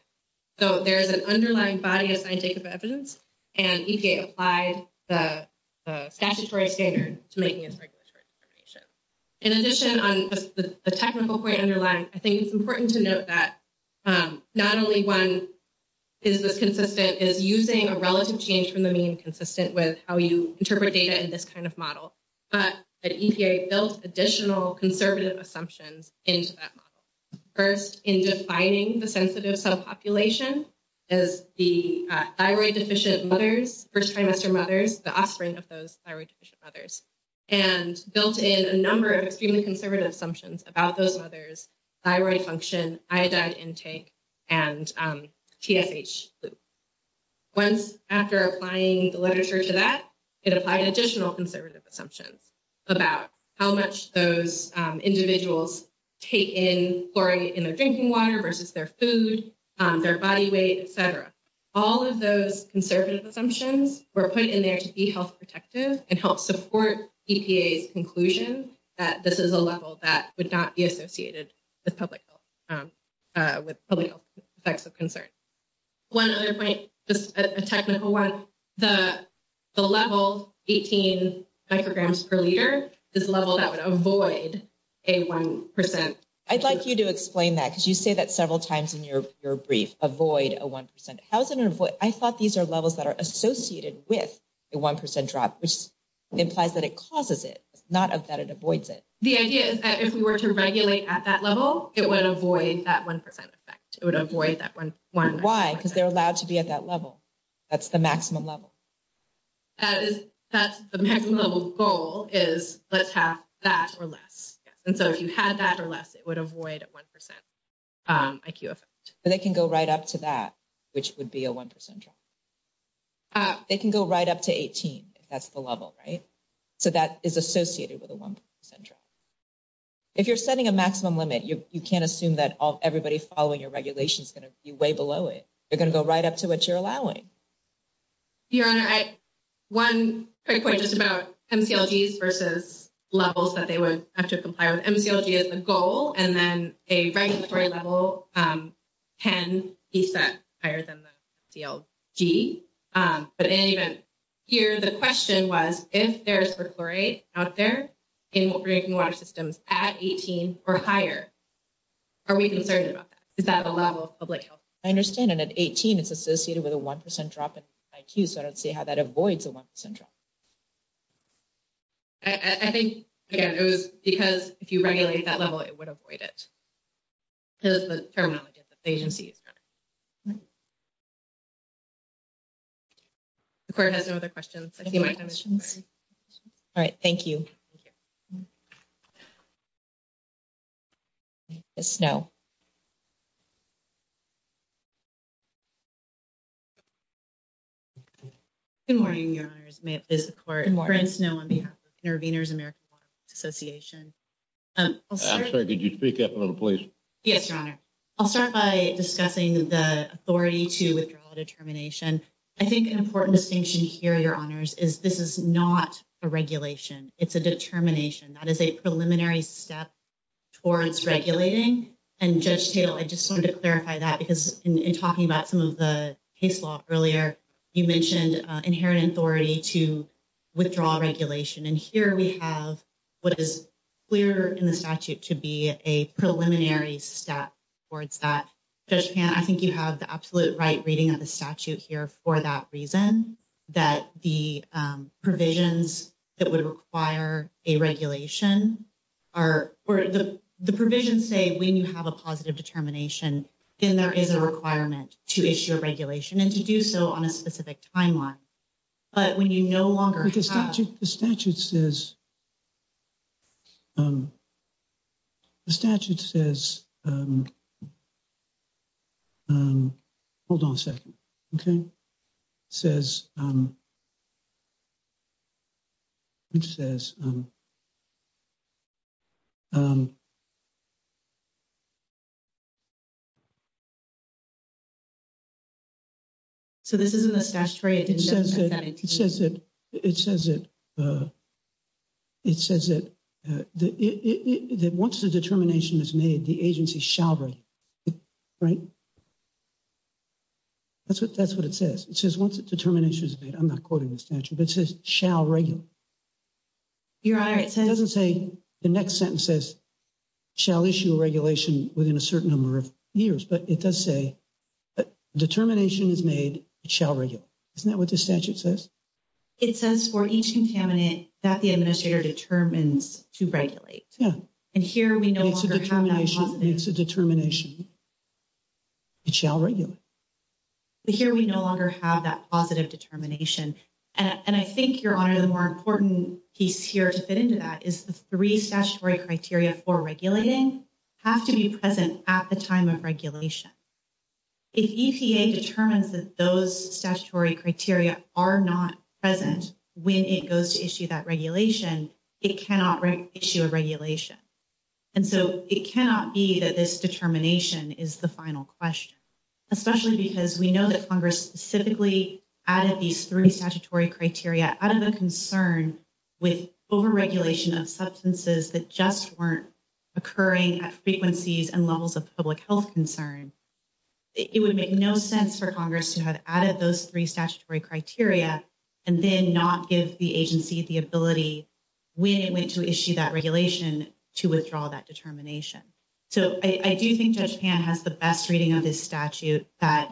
So there is an underlying body of scientific evidence, and EPA applied the statutory standard to making its regulatory determination. In addition, on the technical point underlying, I think it's important to note that not only is this consistent is using a relative change from the mean consistent with how you interpret data in this kind of model, but EPA built additional conservative assumptions into that model. First, in defining the sensitive cell population as the thyroid deficient mothers, first trimester mothers, the offspring of those thyroid deficient mothers, and built in a number of extremely conservative assumptions about those mothers, thyroid function, iodide intake, and TSH. Once after applying the literature to that, it applied additional conservative assumptions about how much those individuals take in chlorine in their drinking water versus their food, their body weight, etc. All of those conservative assumptions were put in there to be health protective and help support EPA's conclusion that this is a level that would not be associated with public health effects of concern. One other point, just a technical one, the level 18 micrograms per liter is a level that would avoid a 1%. I'd like you to explain that, because you say that several times in your brief, avoid a 1%. I thought these are levels that are associated with a 1% drop, which implies that it causes it, not that it avoids it. The idea is that if we were to regulate at that level, it would avoid that 1% effect. It would avoid that 1%. Why? Because they're allowed to be at that level. That's the maximum level. That's the maximum level goal is let's have that or less. And so if you had that or less, it would avoid a 1% IQ effect. They can go right up to that, which would be a 1% drop. They can go right up to 18, if that's the level, right? So that is associated with a 1% drop. If you're setting a maximum limit, you can't assume that everybody following your regulation is going to be way below it. They're going to go right up to what you're allowing. Your Honor, one quick point just about MCLGs versus levels that they would have to comply with. MCLG is the goal, and then a regulatory level can be set higher than the DLG. But even here, the question was, if there's per chlorate out there in what we're making water systems at 18 or higher, are we concerned about that? Is that a level of public health? I understand. And at 18, it's associated with a 1% drop in IQ. So I don't see how that avoids a 1% drop. I think, again, it was because if you regulate that level, it would avoid it. It was the terminology of the agency. The Court has no other questions. I see my questions. All right. Thank you. Ms. Snow. Good morning, Your Honors. May it please the Court. I'm Brian Snow on behalf of Intervenors American Waterworks Association. I'm sorry. Could you speak up a little, please? Yes, Your Honor. I'll start by discussing the authority to withdraw determination. I think an important distinction here, Your Honors, is this is not a regulation. It's a determination. That is a preliminary step towards regulating. And Judge Tatel, I just wanted to clarify that because in talking about some of the case law earlier, you mentioned inherent authority to withdraw regulation. And here we have what is clear in the statute to be a preliminary step towards that. Judge Pan, I think you have the absolute right reading of the statute here for that reason, that the provisions that would require a regulation are where the provisions say when you have a positive determination, then there is a requirement to issue a regulation and to do so on a specific timeline. But when you no longer have— The statute says, hold on a second, okay? So this isn't a statutory— It says it. It says that once the determination is made, the agency shall regulate, right? That's what it says. It says once the determination is made, I'm not quoting the statute, but it says shall regulate. It doesn't say the next sentence says shall issue a regulation within a certain number of years, but it does say determination is made, it shall regulate. Isn't that what the statute says? It says for each contaminant that the administrator determines to regulate. And here we no longer have that positive— It's a determination. It shall regulate. But here we no longer have that positive determination. And I think, Your Honor, the more important piece here to fit into that is the three statutory criteria for regulating have to be present at the time of regulation. If EPA determines that those statutory criteria are not present when it goes to issue that regulation, it cannot issue a regulation. And so it cannot be that this determination is the final question, especially because we know that Congress specifically added these three statutory criteria out of a concern with over-regulation of substances that just weren't occurring at frequencies and levels of public health concern. It would make no sense for Congress to have added those three statutory criteria and then not give the agency the ability when it went to issue that regulation to withdraw that determination. So I do think Judge Pan has the best reading of this statute that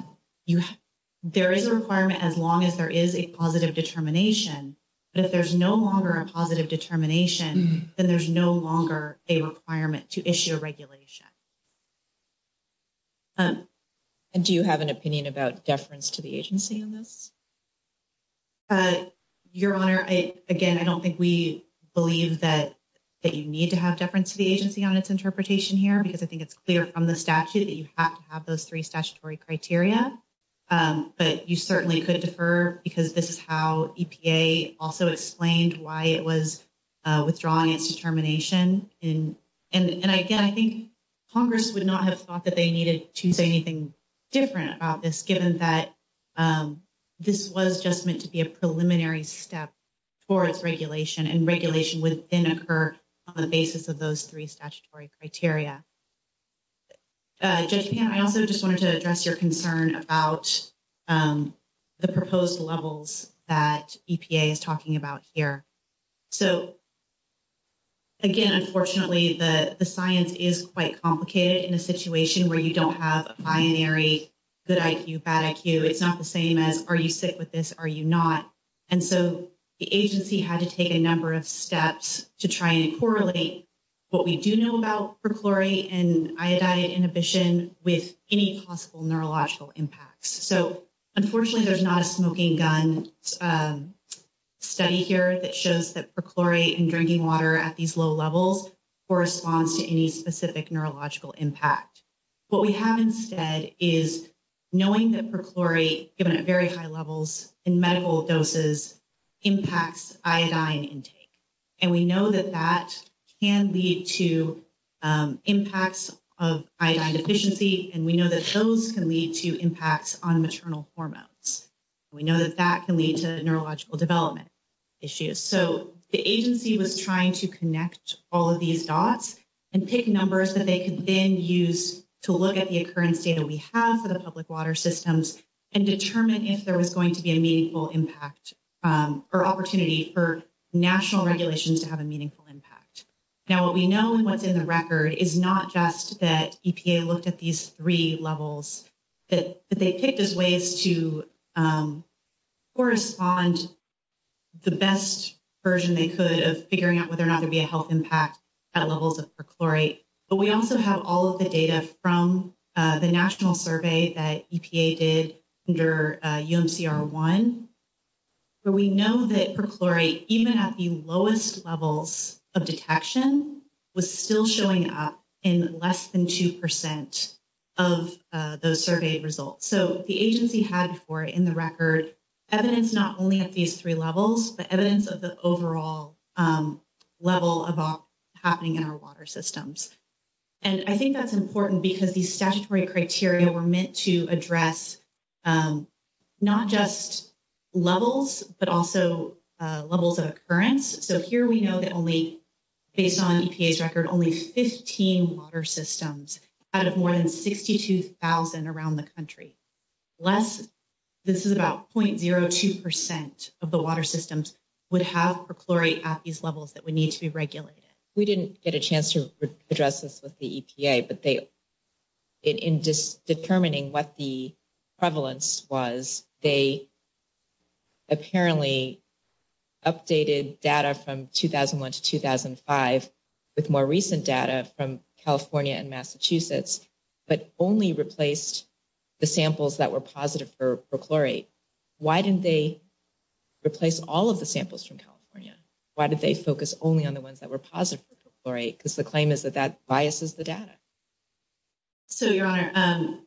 there is a requirement as long as there is a positive determination. But if there's no longer a positive determination, then there's no longer a requirement to issue a regulation. And do you have an opinion about deference to the agency on this? Your Honor, again, I don't think we believe that you need to have deference to the agency on its interpretation here because I think it's clear from the statute that you have to have those three statutory criteria, but you certainly could defer because this is how EPA also explained why it was withdrawing its determination. And again, I think, Congress would not have thought that they needed to say anything different about this given that this was just meant to be a preliminary step towards regulation and regulation would then occur on the basis of those three statutory criteria. Judge Pan, I also just wanted to address your concern about the proposed levels that EPA is talking about here. So again, unfortunately, the science is quite complicated in a situation where you don't have a binary, good IQ, bad IQ. It's not the same as, are you sick with this? Are you not? And so the agency had to take a number of steps to try and correlate what we do know about perchlorate and iodide inhibition with any possible neurological impacts. So unfortunately there's not a smoking gun study here that shows that perchlorate and drinking water at these low levels corresponds to any specific neurological impact. What we have instead is knowing that perchlorate given at very high levels in medical doses impacts iodine intake. And we know that that can lead to impacts of iodine deficiency. And we know that those can lead to impacts on maternal hormones. We know that that can lead to neurological development issues. So the agency was trying to connect all of these dots and pick numbers that they could then use to look at the occurrence data we have for the public water systems and determine if there was going to be a meaningful impact or opportunity for national regulations to have a meaningful impact. Now what we know and what's in the record is not just that EPA looked at these three levels that they picked as ways to correspond the best version they could of figuring out whether or not there'd be a health impact at levels of perchlorate. But we also have all of the data from the national survey that EPA did under UMCR 1. But we know that perchlorate even at the lowest levels of detection was still showing up in less than 2% of those surveyed results. So the agency had before in the record evidence not only at these three levels but evidence of the overall level of happening in our water systems. And I think that's important because these statutory criteria were meant to address not just levels but also levels of occurrence. So here we know that only based on EPA's record only 15 water systems out of more than 62,000 around the country. Less, this is about 0.02% of the water systems would have perchlorate at these levels that would need to be regulated. We didn't get a chance to address this with the EPA but in determining what the prevalence was they apparently updated data from 2001 to 2005 with more recent data from California and Massachusetts but only replaced the samples that were positive for perchlorate. Why didn't they replace all of the samples from California? Why did they focus only on the ones that were positive for perchlorate? Because the claim is that that biases the data. So Your Honor,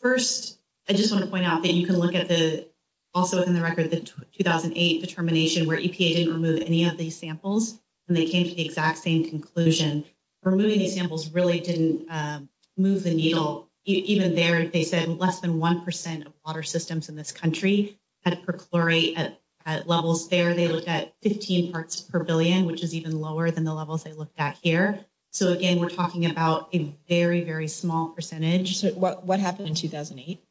first I just want to point out that you can look at the also in the record the 2008 determination where EPA didn't remove any of these samples and they came to the exact same conclusion. Removing these samples really didn't move the needle. Even there they said less than 1% of water systems in this country had perchlorate at levels there. They looked at 15 parts per billion which is even lower than the levels they looked at here. So again, we're talking about a very, very small percentage. So what happened in 2008?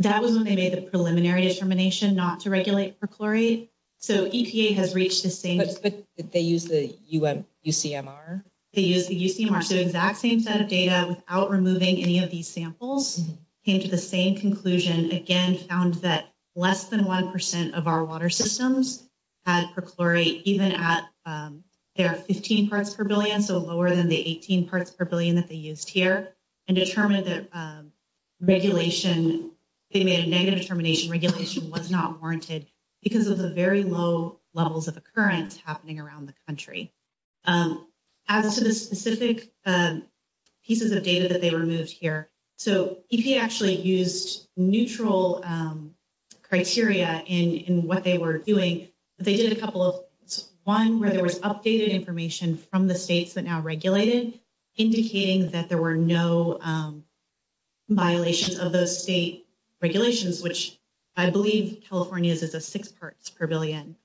That was when they made the preliminary determination not to regulate perchlorate. So EPA has reached the same. But did they use the UCMR? They used the UCMR. So exact same set of data without removing any of these samples. Came to the same conclusion. Again, found that less than 1% of our water systems had perchlorate even at their 15 parts per billion. So lower than the 18 parts per billion that they used here and determined that regulation, they made a negative determination regulation was not warranted because of the very low levels of occurrence happening around the country. As to the specific pieces of data that they removed here. So EPA actually used neutral criteria in what they were doing. They did a couple of one where there was updated information from the states that now regulated indicating that there were no violations of those state regulations, which I believe California is a six parts per billion.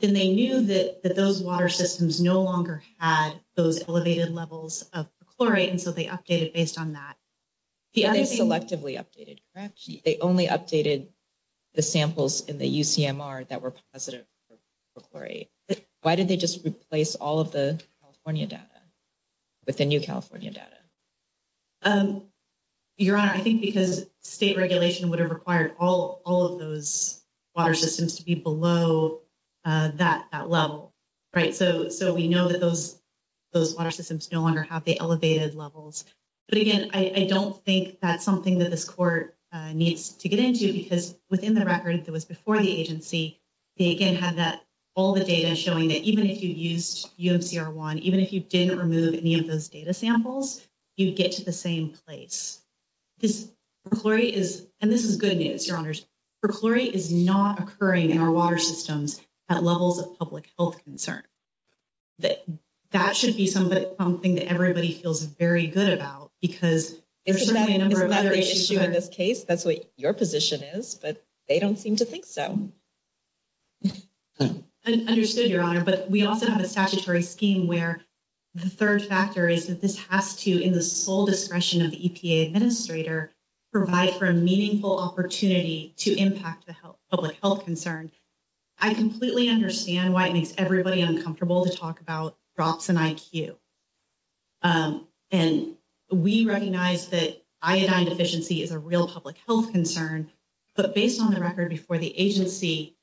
Then they knew that those water systems no longer had those elevated levels of perchlorate. And so they updated based on that. Yeah, they selectively updated, correct? They only updated the samples in the UCMR that were positive for perchlorate. Why did they just replace all of the California data with the new California data? Your Honor, I think because state regulation would have required all of those water systems to be below that level, right? So we know that those water systems no longer have the elevated levels. But again, I don't think that's something that this court needs to get into because within the record that was before the agency, they again had that all the data showing that even if you used UMCR1, even if you didn't remove any of those data samples, you'd get to the same place. This perchlorate is, and this is good news, Your Honors. Perchlorate is not occurring in our water systems at levels of public health concern. That should be something that everybody feels very good about because there's certainly a number of other issues. In this case, that's what your position is, but they don't seem to think so. Understood, Your Honor. But we also have a statutory scheme where the third factor is that this has to, in the sole discretion of the EPA administrator, provide for a meaningful opportunity to impact the public health concern. I completely understand why it makes everybody uncomfortable to talk about drops in IQ. And we recognize that iodine deficiency is a real public health concern, but based on the record before the agency,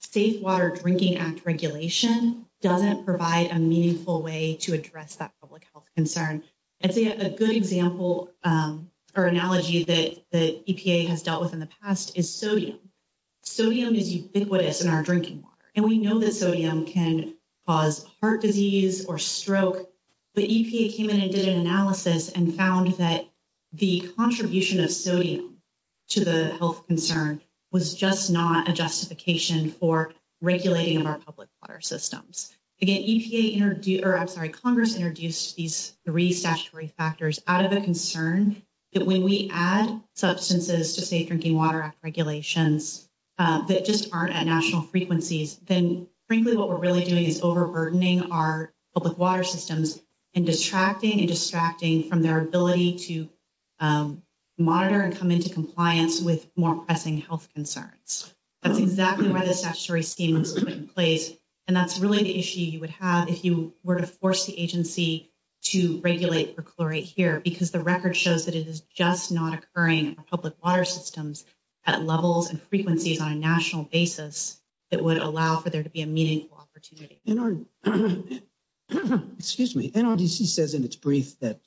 Safe Water Drinking Act regulation doesn't provide a meaningful way to address that public health concern. I'd say a good example or analogy that the EPA has dealt with in the past is sodium. Sodium is ubiquitous in our drinking water, and we know that sodium can cause heart disease or stroke. The EPA came in and did an analysis and found that the contribution of sodium to the health concern was just not a justification for regulating of our public water systems. Again, Congress introduced these three statutory factors out of a concern that when we add substances to Safe Drinking Water Act regulations that just aren't at national frequencies, then frankly, what we're really doing is overburdening our public water systems and distracting and distracting from their ability to monitor and come into compliance with more pressing health concerns. That's exactly why the statutory scheme was put in place. And that's really the issue you would have if you were to force the agency to regulate perchlorate here, because the record shows that it is just not occurring in public water systems at levels and frequencies on a national basis that would allow for there to be a meaningful opportunity. And our excuse me, NRDC says in its brief that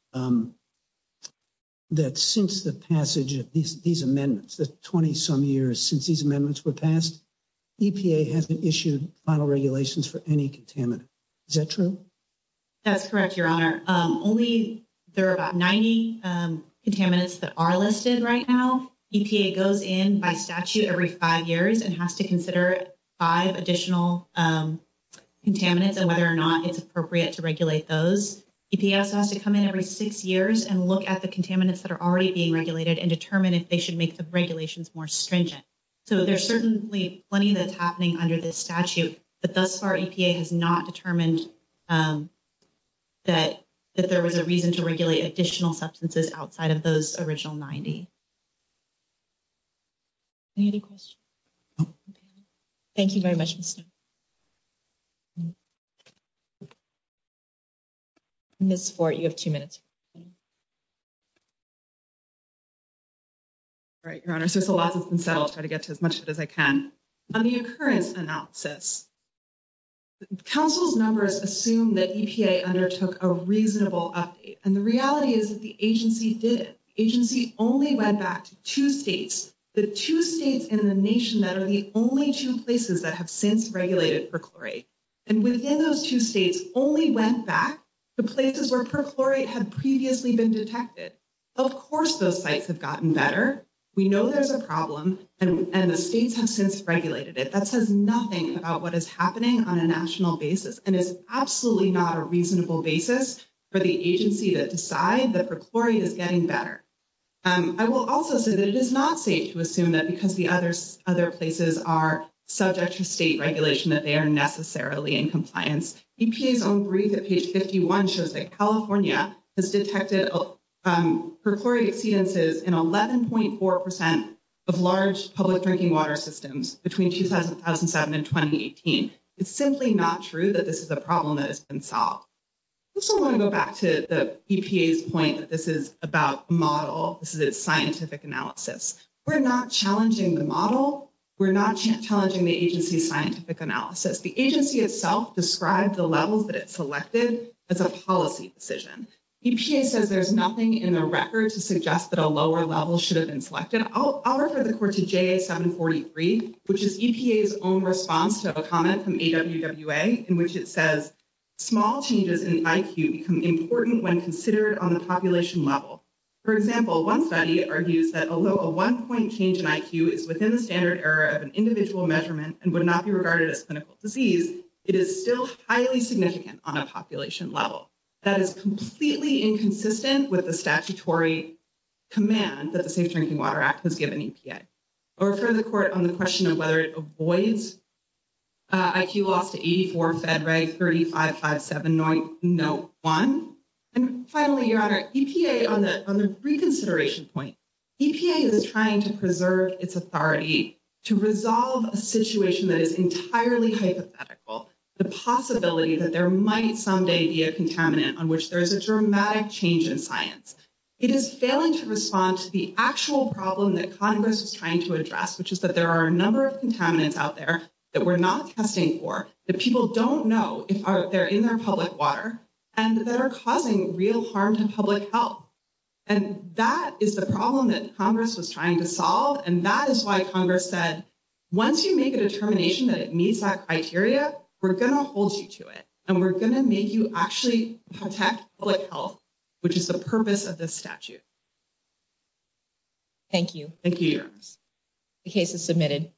that since the passage of these amendments, the 20 some years since these amendments were passed, EPA hasn't issued final regulations for any contaminant. Is that true? That's correct, Your Honor. Only there are about 90 contaminants that are listed right now. EPA goes in by statute every five years and has to consider five additional contaminants and whether or not it's appropriate to regulate those. EPS has to come in every six years and look at the contaminants that are already being regulated and determine if they should make the regulations more stringent. So there's certainly plenty that's happening under this statute. But thus far, EPA has not determined that that there was a reason to regulate additional substances outside of those original 90. Any other questions? Thank you very much. Ms. Fort, you have two minutes. All right, Your Honor, since a lot has been settled, I'll try to get to as much of it as I can. On the occurrence analysis, council's numbers assume that EPA undertook a reasonable update. And the reality is that the agency did it. The agency only went back to two states, the two states in the nation that are the only two places that have since regulated perchlorate. And within those two states only went back to places where perchlorate had previously been detected. Of course, those sites have gotten better. We know there's a problem and the states have since regulated it. That says nothing about what is happening on a national basis. And it's absolutely not a reasonable basis for the agency to decide that perchlorate is getting better. I will also say that it is not safe to assume that because the other places are subject to state regulation that they are necessarily in compliance. EPA's own brief at page 51 shows that California has detected perchlorate exceedances in 11.4% of large public drinking water systems between 2007 and 2018. It's simply not true that this is a problem that has been solved. I also want to go back to the EPA's point that this is about a model. This is a scientific analysis. We're not challenging the model. We're not challenging the agency's scientific analysis. The agency itself described the levels that it selected as a policy decision. EPA says there's nothing in the record to suggest that a lower level should have been selected. I'll refer the court to JA 743, which is EPA's own response to a comment from AWWA, in which it says, small changes in IQ become important when considered on the population level. For example, one study argues that although a one point change in IQ is within the standard error of an individual measurement and would not be regarded as clinical disease, it is still highly significant on a population level. That is completely inconsistent with the statutory command that the Safe Drinking Water Act has given EPA. I'll refer the court on the question of whether it avoids IQ loss to 84, FEDRAE 3557.01. And finally, Your Honor, EPA, on the reconsideration point, EPA is trying to preserve its authority to resolve a situation that is entirely hypothetical. The possibility that there might someday be a contaminant on which there is a dramatic change in science. It is failing to respond to the actual problem that Congress is trying to address, which is that there are a number of contaminants out there that we're not testing for, that people don't know if they're in their public water and that are causing real harm to public health. And that is the problem that Congress was trying to solve. And that is why Congress said, once you make a determination that it meets that criteria, we're going to hold you to it and we're going to make you actually protect public health, which is the purpose of this statute. Thank you. Thank you, Your Honor. The case is submitted.